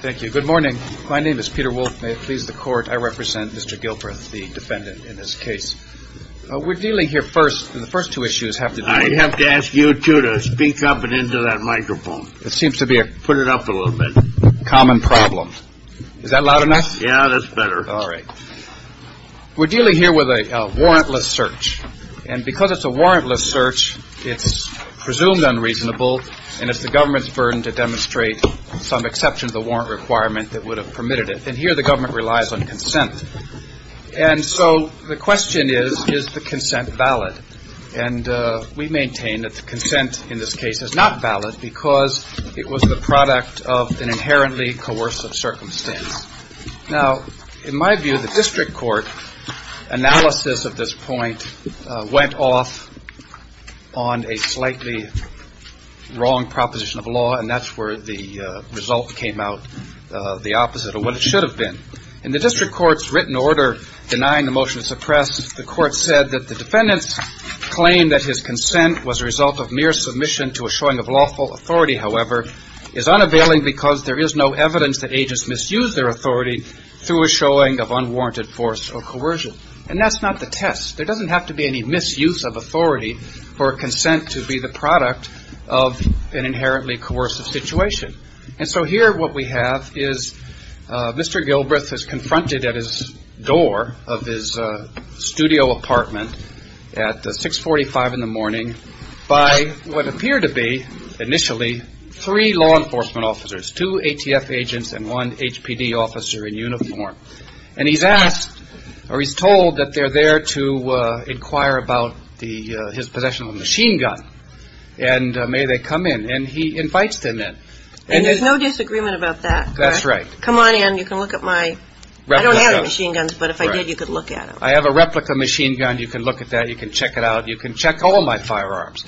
Thank you. Good morning. My name is Peter Wolfe. May it please the court, I represent Mr. Gilbreath, the defendant in this case. We're dealing here first, the first two issues have to be I have to ask you two to speak up and into that microphone. It seems to be a Put it up a little bit. Common problem. Is that loud enough? Yeah, that's better. All right. We're dealing here with a warrantless search. And because it's a warrantless search, it's presumed unreasonable. And if the government's determined to demonstrate some exception to the warrant requirement that would have permitted it, then here the government relies on consent. And so the question is, is the consent valid? And we maintain that the consent in this case is not valid because it was the product of an inherently coercive circumstance. Now, in my view, the district court analysis of this point went off on a slightly wrong proposition of law, and that's where the result came out the opposite of what it should have been. In the district court's written order denying the motion to suppress, the court said that the defendant's claim that his consent was a result of mere submission to a showing of lawful authority, however, is unavailing because there is no evidence that agents misuse their authority through a showing of unwarranted force or coercion. And that's not the test. There doesn't have to be any misuse of authority for consent to be the product of an inherently coercive situation. And so here what we have is Mr. Gilbreth is confronted at his door of his studio apartment at 645 in the morning by what appeared to be initially three law enforcement officers, two ATF agents and one HPD officer in uniform. And he's asked or he's told that they're there to inquire about his possession of a machine gun, and may they come in. And he invites them in. And there's no disagreement about that? That's right. Come on in. You can look at my... I don't have any machine guns, but if I did, you could look at them. I have a replica machine gun. You can look at that. You can check it out. You can check all my firearms.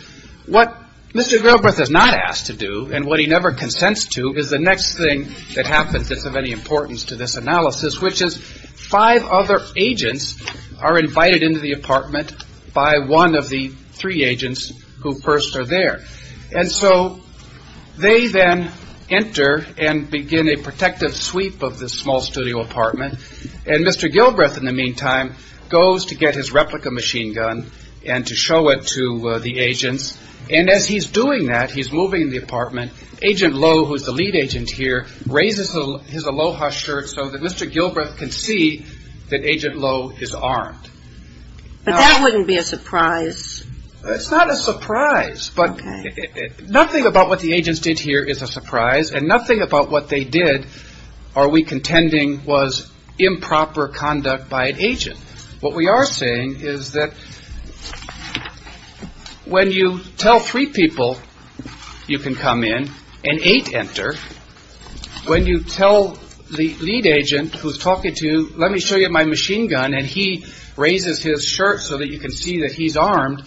What Mr. Gilbreth is not asked to do and what he never consents to is the next thing that happens that's of any importance to this analysis, which is five other agents are invited into the apartment by one of the three agents who first are there. And so they then enter and begin a protective sweep of this small studio apartment. And Mr. Gilbreth, in the meantime, goes to get his replica machine gun and to show it to the agents. And as he's doing that, he's moving the apartment, Agent Lowe, who's the lead agent here, raises his aloha shirt so that Mr. Gilbreth can see that Agent Lowe is armed. But that wouldn't be a surprise. It's not a surprise. But nothing about what the agents did here is a surprise. And nothing about what they did, are we contending, was improper conduct by an agent. What we are saying is that when you tell three people you can come in and eight enter, when you tell the lead agent who's talking to you, let me show you my machine gun, and he raises his shirt so that you can see that he's armed,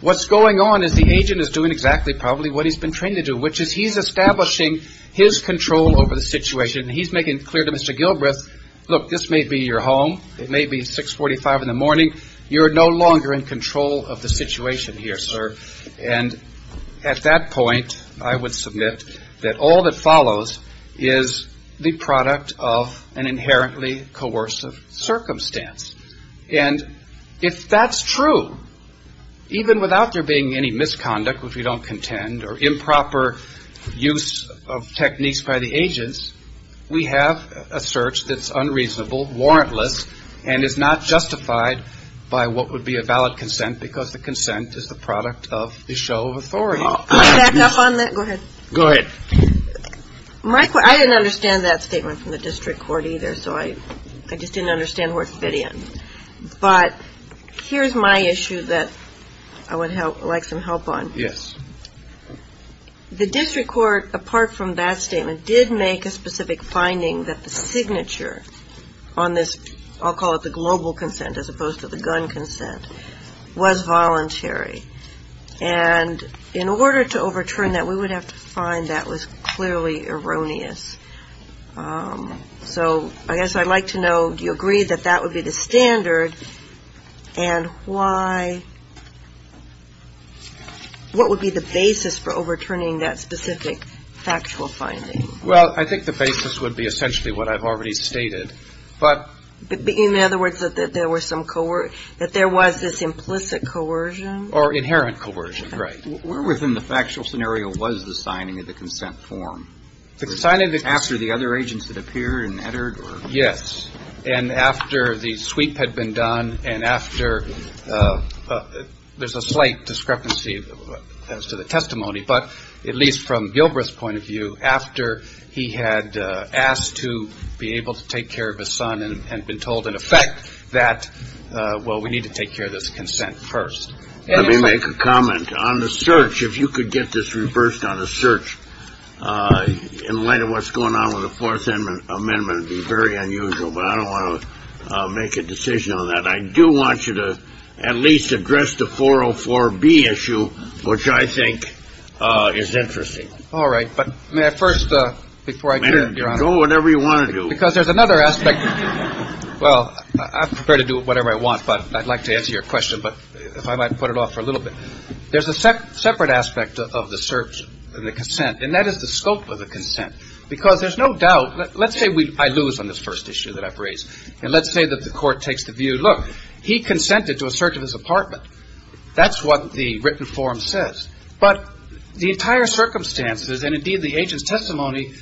what's going on is the agent is doing exactly probably what he's been trained to do, which is he's establishing his control over the situation and he's making it clear to Mr. Gilbreth, look, this may be your home. It may be 645 in the morning. You're no longer in control of the situation here, sir. And at that point, I would submit that all that follows is the product of an inherently coercive circumstance. And if that's true, even without there being any misconduct, which we don't contend, or improper use of techniques by the agents, we have a search that's unreasonable, warrantless, and is not justified by what would be a valid consent because the consent is the product of a show of authority. Can I back up on that? Go ahead. Go ahead. I didn't understand that statement from the district court either, so I just didn't understand where it fit in. But here's my issue that I would like some help on. The district court, apart from that statement, did make a specific finding that the signature on this, I'll call it the global consent as opposed to the gun consent, was voluntary. And in order to overturn that, we would have to find that was clearly erroneous. So I guess I'd like to know, do you agree that that would be the standard and why, what would be the basis for overturning that specific factual finding? Well, I think the basis would be essentially what I've already stated. But in other words, that there was some coercion, that there was this implicit coercion? Or inherent coercion, right. Where within the factual scenario was the signing of the consent form? It was signed after the other agents had appeared and entered or? Yes. And after the sweep had been done and after, there's a slight discrepancy as to the testimony, but at least from Gilbreth's point of view, after he had asked to be able to take care of his son and had been told in effect that, well, we need to take care of this consent first. Let me make a comment on the search. If you could get this reversed on a search, in light of what's going on with the Fourth Amendment, it would be very unusual. But I don't want to make a decision on that. I do want you to at least address the 404B issue, which I think is interesting. All right. But may I first, before I do that, Your Honor? Go whatever you want to do. Because there's another aspect. Well, I'm prepared to do whatever I want, but I'd like to answer your question. But if I might put it off for a little bit. There's a separate aspect of the search and the consent, and that is the scope of the consent. Because there's no doubt. Let's say I lose on this first issue that I've raised. And let's say that the Court takes the view, look, he consented to a search of his apartment. That's what the written form says. But the entire circumstances, and indeed the agent's testimony,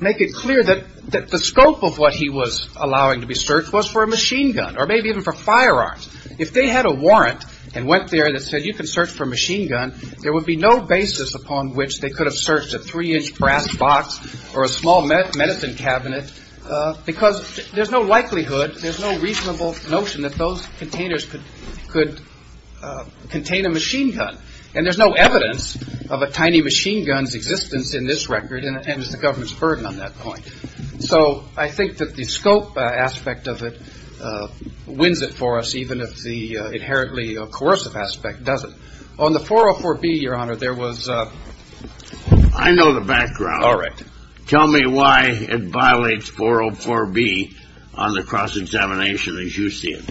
make it clear that the scope of what he was allowing to be searched was for a machine gun, or maybe even for firearms. If they had a warrant and went there and said, you can search for a machine gun, there would be no basis upon which they could have searched a three-inch brass box or a small medicine cabinet, because there's no likelihood, there's no reasonable notion that those containers could contain a machine gun. And there's no evidence of a tiny machine gun's existence in this record, and it's the government's burden on that point. So I think that the scope aspect of it wins it for us, even if the inherently coercive aspect doesn't. On the 404B, Your Honor, there was a… I know the background. All right. Tell me why it violates 404B on the cross-examination as you see it.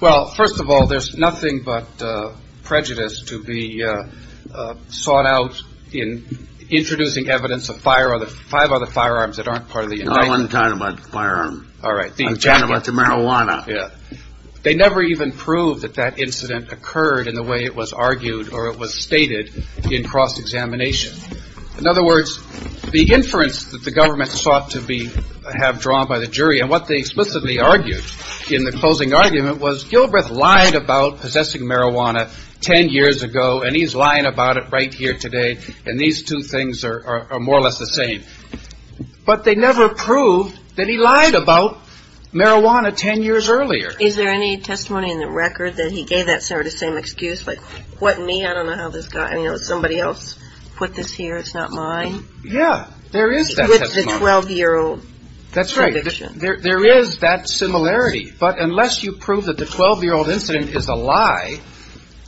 Well, first of all, there's nothing but prejudice to be sought out in introducing evidence of five other firearms that aren't part of the indictment. No, I wasn't talking about the firearms. All right. I'm talking about the marijuana. Yeah. They never even proved that that incident occurred in the way it was argued or it was stated in cross-examination. In other words, the inference that the government sought to be… have drawn by the jury and what they explicitly argued in the closing argument was Gilbreth lied about possessing marijuana 10 years ago, and he's lying about it right here today, and these two things are more or less the same. But they never proved that he lied about marijuana 10 years earlier. Is there any testimony in the record that he gave that sort of same excuse, like, what me? I don't know how this got… I mean, somebody else put this here. It's not mine. Yeah. There is that testimony. That's a 12-year-old… That's right. There is that similarity. But unless you prove that the 12-year-old incident is a lie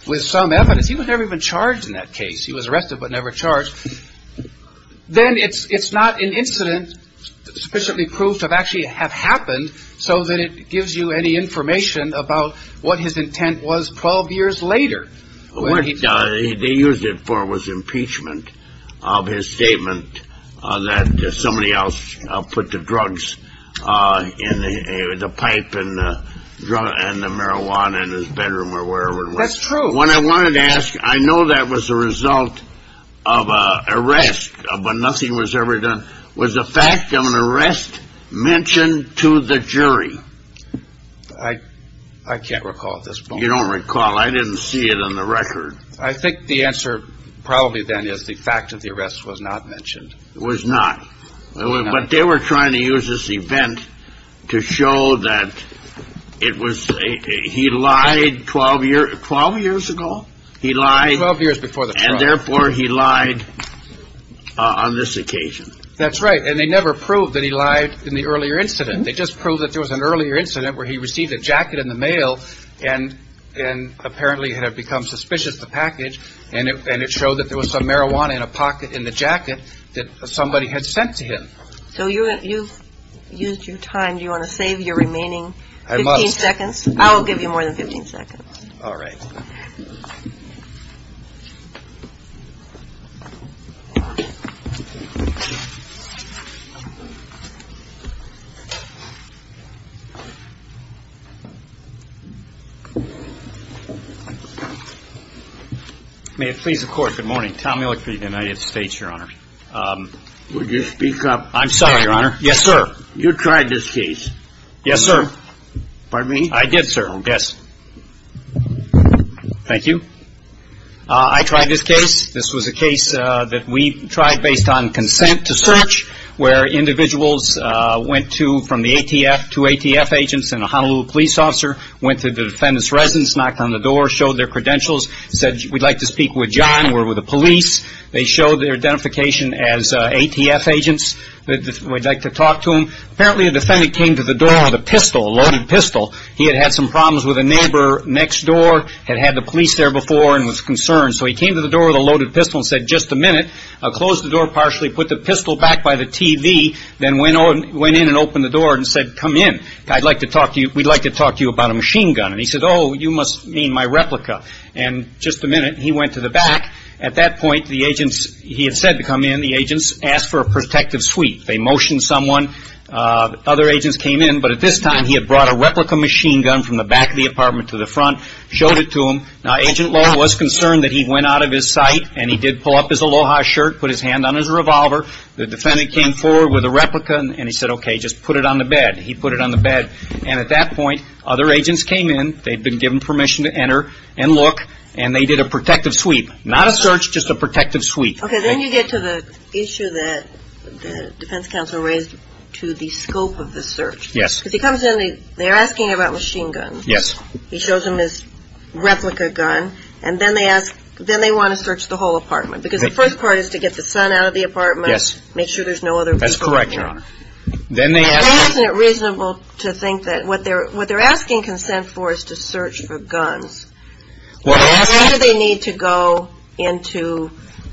with some evidence… he was never even charged in that case. He was arrested but never charged. Then it's not an incident sufficiently proved to have actually have happened so that it gives you any information about what his intent was 12 years later. What they used it for was impeachment of his statement that somebody else put the drugs in the pipe and the marijuana in his bedroom or wherever it was. That's true. What I wanted to ask, I know that was a result of an arrest, but nothing was ever done. Was the fact of an arrest mentioned to the jury? I can't recall at this point. You don't recall. I didn't see it on the record. I think the answer probably then is the fact of the arrest was not mentioned. It was not. But they were trying to use this event to show that it was… he lied 12 years ago? He lied… Twelve years before the trial. And therefore, he lied on this occasion. That's right. And they never proved that he lied in the earlier incident. They just proved that there was an earlier incident where he received a jacket in the mail and apparently had become suspicious of the package and it showed that there was some marijuana in a pocket in the jacket that somebody had sent to him. So you've used your time. Do you want to save your remaining 15 seconds? I must. I'll give you more than 15 seconds. All right. May it please the Court, good morning. Tom Millick for the United States, Your Honor. Would you speak up? I'm sorry, Your Honor. Yes, sir. You tried this case. Yes, sir. Pardon me? I did, sir. Yes. Thank you. I tried this case. This was a case that we tried based on consent to search where individuals went to, from the ATF, two ATF agents and a Honolulu police officer, went to the defendant's residence, knocked on the door, showed their credentials, said we'd like to speak with John, we're with the police. They showed their identification as ATF agents. We'd like to talk to them. Apparently, a defendant came to the door with a pistol, a loaded pistol. He had had some neighbor next door, had had the police there before and was concerned. So he came to the door with a loaded pistol and said, just a minute, I'll close the door partially, put the pistol back by the TV, then went in and opened the door and said, come in. I'd like to talk to you, we'd like to talk to you about a machine gun. And he said, oh, you must mean my replica. And just a minute, he went to the back. At that point, the agents, he had said to come in, the agents asked for a protective suite. They motioned someone. Other agents came in. But at this time, he had brought a replica machine gun from the back of the apartment to the front, showed it to them. Now, Agent Lowe was concerned that he went out of his sight and he did pull up his Aloha shirt, put his hand on his revolver. The defendant came forward with a replica and he said, okay, just put it on the bed. He put it on the bed. And at that point, other agents came in. They'd been given permission to enter and look. And they did a protective suite. Not a search, just a protective suite. Okay, then you get to the issue that the defense counsel raised to the scope of the search. Yes. Because he comes in, they're asking about machine guns. Yes. He shows them his replica gun. And then they ask, then they want to search the whole apartment. Because the first part is to get the son out of the apartment. Yes. Make sure there's no other people in there. That's correct, Your Honor. And isn't it reasonable to think that what they're asking consent for is to search for guns. What they're asking Why do they need to go into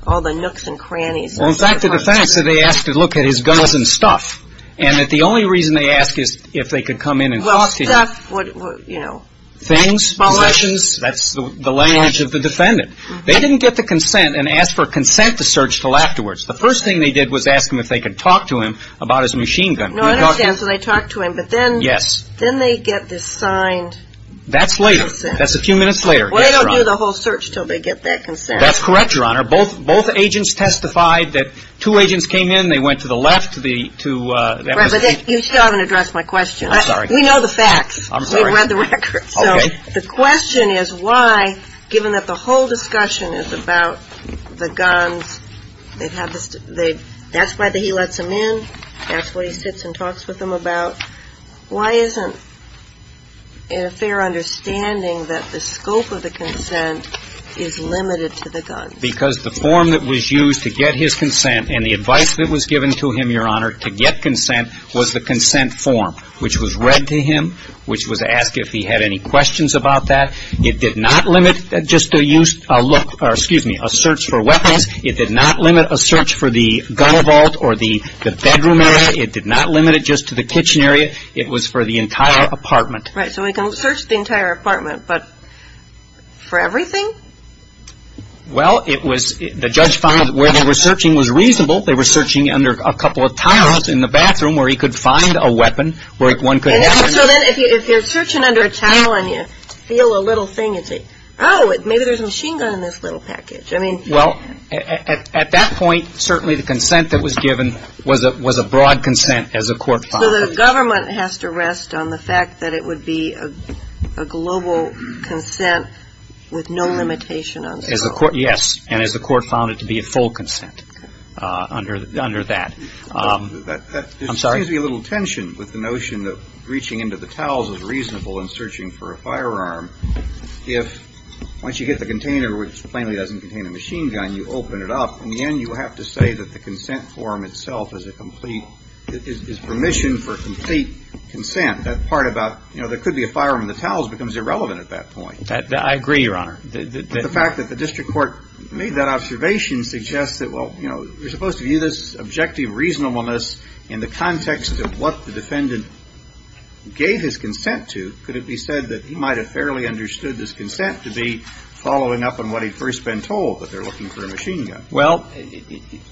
all the nooks and crannies of the apartment? Well, in fact, the defense said they asked to look at his guns and stuff. And that the only reason they asked is if they could come in and talk to him. Well, stuff would, you know, Small items. Possessions. That's the language of the defendant. They didn't get the consent and ask for consent to search until afterwards. The first thing they did was ask him if they could talk to him about his machine gun. No, I understand. So they talked to him. But then Yes. Then they get this signed consent. That's later. That's a few minutes later. Well, they don't do the whole search until they get that consent. That's correct, Your Honor. Both agents testified that two agents came in. They went to the left to You still haven't addressed my question. I'm sorry. We know the facts. I'm sorry. We've read the records. Okay. So the question is why, given that the whole discussion is about the guns, they've had the That's why he lets them in. That's what he sits and talks with them about. Why isn't it a fair understanding that the scope of the consent is limited to the guns? Because the form that was used to get his consent and the advice that was given to him, Your Honor, to get consent was the consent form, which was read to him, which was asked if he had any questions about that. It did not limit just to use a look or, excuse me, a search for weapons. It did not limit a search for the gun vault or the bedroom area. It did not limit it just to the kitchen area. It was for the entire apartment. Right. So he can search the entire apartment, but for everything? Well, it was the judge found where they were searching was reasonable. They were searching under a couple of towels in the bathroom where he could find a weapon, where one could have So then if you're searching under a towel and you feel a little thing, it's like, oh, maybe there's a machine gun in this little package. I mean Well, at that point, certainly the consent that was given was a broad consent as a court found So the government has to rest on the fact that it would be a global consent with no limitation on scope Yes. And as the court found it to be a full consent under that There seems to be a little tension with the notion that reaching into the towels is reasonable and searching for a firearm. If, once you get the container, which plainly doesn't contain a machine gun, you open it up, in the end you have to say that the consent form itself is a complete, is permission for complete consent. That part about, you know, there could be a firearm in the towels becomes irrelevant at that point. I agree, Your Honor. The fact that the district court made that observation suggests that, well, you know, you're supposed to view this objective reasonableness in the context of what the defendant gave his consent to. Could it be said that he might have fairly understood this consent to be following up on what he'd first been told, that they're looking for a machine gun? Well,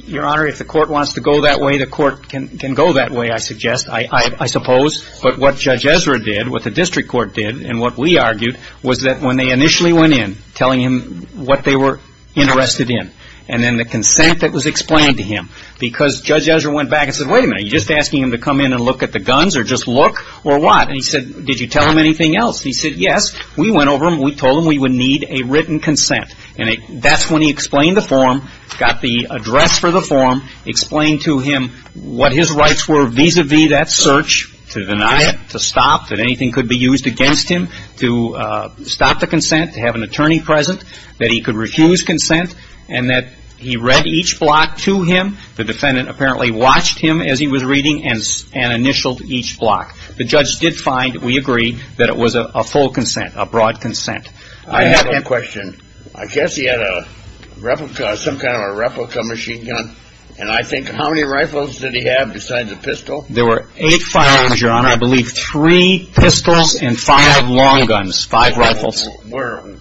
Your Honor, if the court wants to go that way, the court can go that way, I suggest, I suppose. But what Judge Ezra did, what the district court did, and what we argued, was that when they initially went in, telling him what they were interested in, and then the consent that was explained to him, because Judge Ezra went back and said, wait a minute, are you just asking him to come in and look at the guns, or just look, or what? And he said, did you tell him anything else? He said, yes. We went over and we told him we would need a written consent. And that's when he explained the form, got the address for the form, explained to him what his rights were vis-a-vis that search, to deny it, to stop the consent, to have an attorney present, that he could refuse consent, and that he read each block to him. The defendant apparently watched him as he was reading and initialed each block. The judge did find, we agreed, that it was a full consent, a broad consent. I have a question. I guess he had a replica, some kind of a replica machine gun. And I think, how many rifles did he have besides a pistol? There were eight firearms, Your Honor. I believe three pistols and five long guns, five rifles. Were,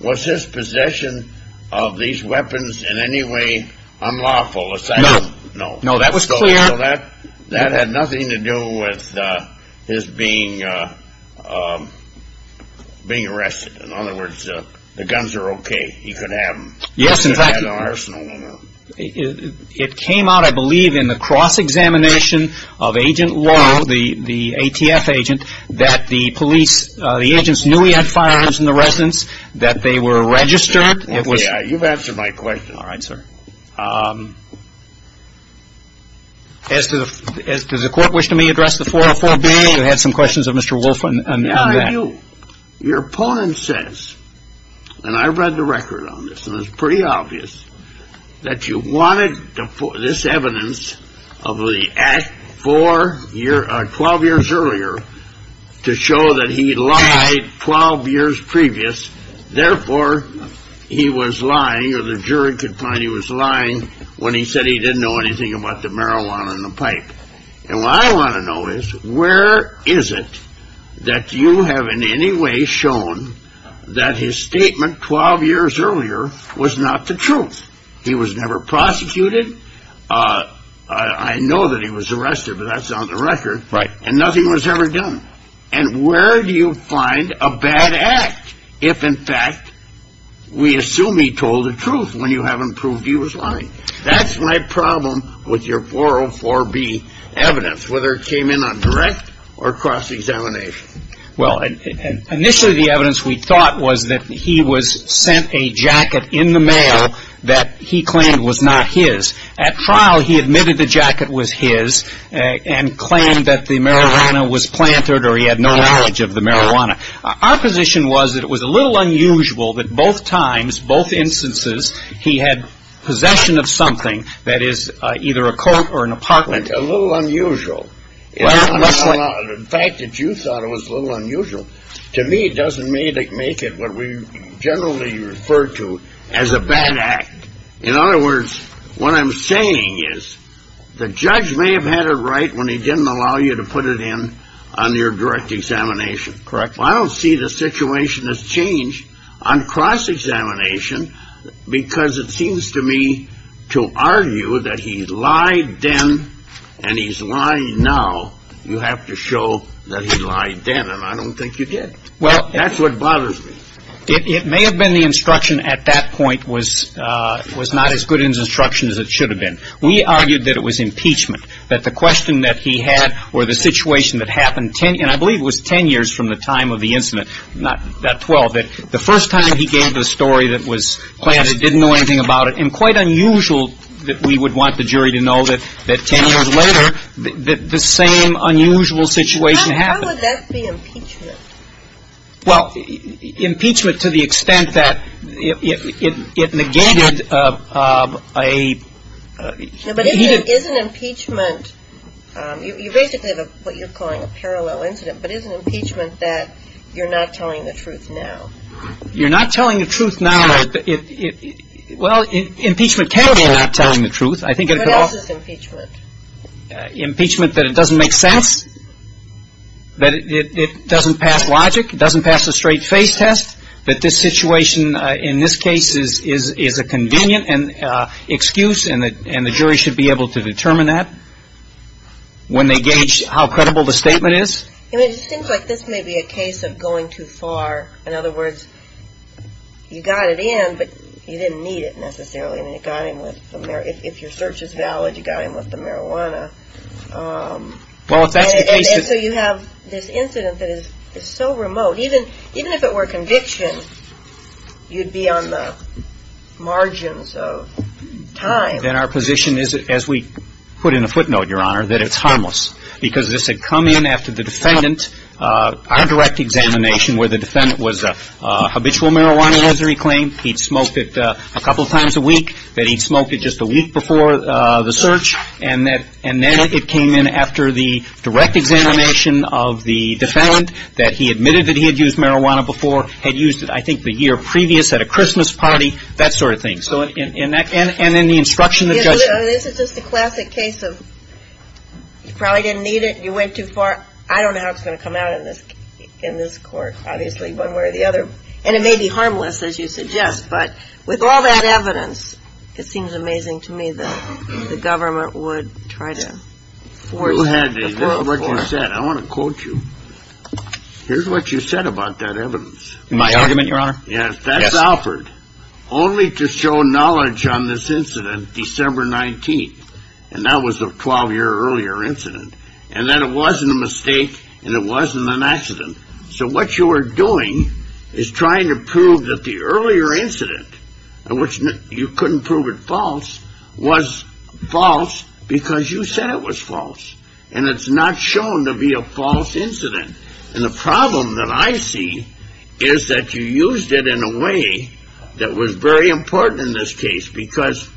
was his possession of these weapons in any way unlawful? No. No. No, that was clear. So that had nothing to do with his being, being arrested. In other words, the guns are okay. He could have them. Yes, in fact, it came out, I believe, in the cross-examination of Agent Laurel, the ATF agent, that the police, the agents knew he had firearms in the residence, that they were registered. Yeah, you've answered my question. All right, sir. As to the, as to the court wish to me address the 404-B, you had some questions of Mr. Wolfe on that. Your opponent says, and I read the record on this, and it's pretty obvious, that you wanted this evidence of the act four year, 12 years earlier, to show that he lied 12 years previous. Therefore, he was lying, or the jury could find he was lying, when he said he didn't know anything about the marijuana and the pipe. And what I want to know is, where is it that you have in any way shown that his statement 12 years earlier was not the truth? He was never prosecuted. I know that he was arrested, but that's on the record. Right. And nothing was ever done. And where do you find a bad act if, in fact, we assume he told the truth when you haven't proved he was lying? That's my problem with your 404-B evidence, whether it came in on direct or cross-examination. Well, initially, the evidence we thought was that he was sent a jacket in the mail that he claimed was not his. At trial, he admitted the jacket was his, and claimed that the marijuana was planted, or he had no knowledge of the marijuana. Our position was that it was a In both instances, he had possession of something that is either a coat or an apartment. A little unusual. Well, that's what The fact that you thought it was a little unusual, to me, doesn't make it what we generally refer to as a bad act. In other words, what I'm saying is, the judge may have had it right when he didn't allow you to put it in on your direct examination. Correct. Well, I don't see the situation has changed on cross-examination, because it seems to me to argue that he lied then, and he's lying now. You have to show that he lied then, and I don't think you did. That's what bothers me. It may have been the instruction at that point was not as good an instruction as it should have been. We argued that it was impeachment, that the question that he had, or the situation that happened, and I believe it was ten years from the time of the incident, not twelve, that the first time he gave the story that was planted, didn't know anything about it, and quite unusual that we would want the jury to know that ten years later, the same unusual situation happened. How would that be impeachment? Well, impeachment to the extent that it negated a But isn't impeachment, you basically have what you're calling a parallel incident, but isn't impeachment that you're not telling the truth now? You're not telling the truth now. Well, impeachment can be not telling the truth. What else is impeachment? Impeachment that it doesn't make sense, that it doesn't pass logic, it doesn't pass a straight face test, that this situation in this case is a convenient excuse, and the jury should be able to determine that when they gauge how credible the statement is. It seems like this may be a case of going too far. In other words, you got it in, but you didn't need it necessarily. I mean, if your search is valid, you got him with the marijuana. And so you have this incident that is so remote, even if it were conviction, you'd be on the margins of time. Then our position is, as we put in a footnote, Your Honor, that it's harmless, because this had come in after the defendant, our direct examination, where the defendant was a habitual marijuana misery claim, he'd smoked it a couple of times a week, that he'd smoked it just a week before the search, and then it came in after the direct examination of the defendant that he admitted that he had used marijuana before, had used it I think the year previous at a Christmas party, that sort of thing. And then the instruction of the judge. This is just a classic case of you probably didn't need it, you went too far, I don't know how it's going to come out in this court, obviously, one way or the other. And it may be harmless, as you suggest, but with all that evidence, it seems amazing to me that the government would try to force... You had to, this is what you said, I want to quote you. Here's what you said about that evidence. My argument, Your Honor? Yes, that's Alford. Only to show knowledge on this incident, December 19th, and that was a 12 year earlier incident, and that it wasn't a mistake, and it wasn't an accident. So what you are doing is trying to prove that the earlier incident, which you couldn't prove it false, was false because you said it was false. And it's not shown to be a false incident. And the problem that I see is that you used it in a way that was very important in this case, because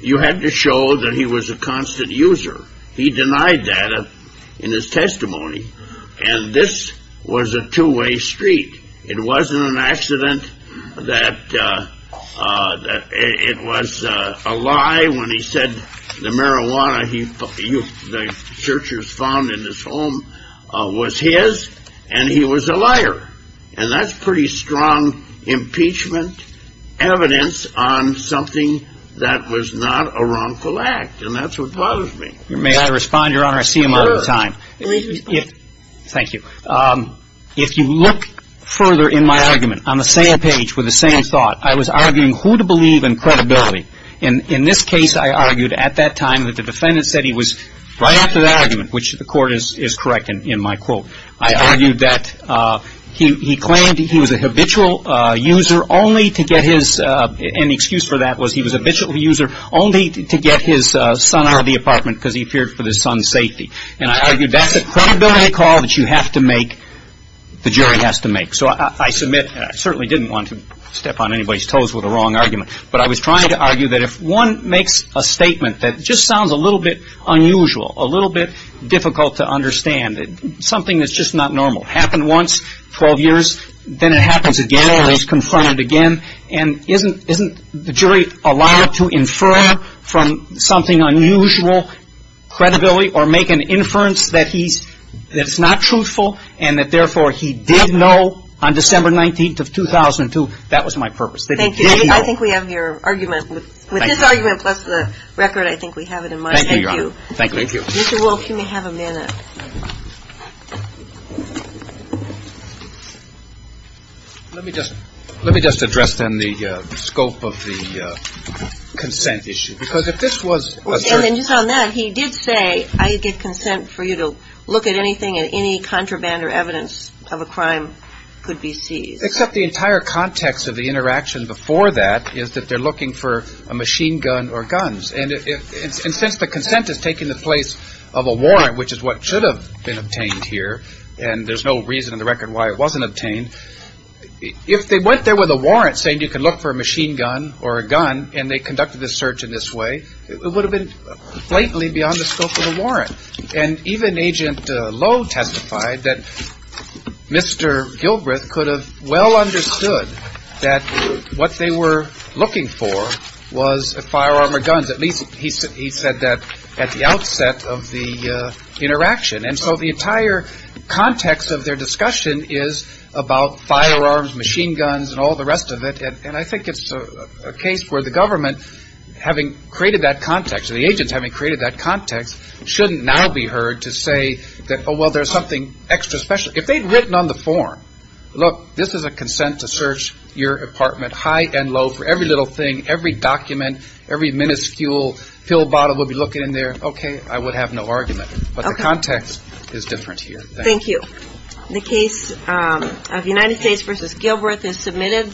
you had to show that he was a constant user. He denied that in his testimony. And this was a two-way street. It wasn't an accident that it was a lie when he said the marijuana the searchers found in his home was his, and he was a liar. And that's pretty strong impeachment evidence on something that was not a wrongful act. And that's what bothers me. May I respond, Your Honor? I see him out of time. Sure. Please respond. Thank you. If you look further in my argument, on the same page, with the same thought, I was arguing who to believe in credibility. In this case, I argued at that time that the defendant said he was, right after that argument, which the Court is correct in my quote, I argued that he claimed he was a habitual user only to get his, and the excuse for that was he was a habitual user only to get his son out of the apartment because he feared for his son's safety. And I argued that's a credibility call that you have to make, the jury has to make. So I submit, and I certainly didn't want to step on anybody's toes with a wrong argument, but I was trying to argue that if one makes a statement that just sounds a little bit unusual, a little bit difficult to understand, something that's just not normal, happened once, 12 years, then it happens again, or it's confronted again, and isn't the jury allowed to infer from something unusual credibility, or make an inference that he's, that it's not truthful, and that therefore he did know on December 19th of 2002, that was my purpose. Thank you. I think we have your argument. With this argument, plus the record, I think we have it in mind. Thank you, Your Honor. Thank you. Thank you. Mr. Wolfe, you may have a minute. Let me just address, then, the scope of the consent issue. Because if this was asserted. And just on that, he did say, I get consent for you to look at anything and any contraband or evidence of a crime could be seized. Except the entire context of the interaction before that is that they're looking for a machine gun or guns. And since the consent is taking the place of a warrant, which is what should have been obtained here, and there's no reason in the record why it wasn't obtained, if they went there with a warrant saying you can look for a machine gun or a gun, and they conducted the search in this way, it would have been blatantly beyond the scope of the warrant. And even Agent Lowe testified that Mr. Gilbreth could have well understood that what they were looking for was a firearm or guns. At least he said that at the outset of the interaction. And so the entire context of their discussion is about firearms, machine guns, and all the rest of it. And I think it's a case where the government, having created that context, or the agents having created that context, shouldn't now be heard to say that, oh, well, there's something extra special. If they'd written on the form, look, this is a consent to search your apartment, high and low, for every little thing, every document, every minuscule pill bottle we'll be looking in there, okay, I would have no argument. But the context is different here. Thank you. The case of United States v. Gilbreth is submitted.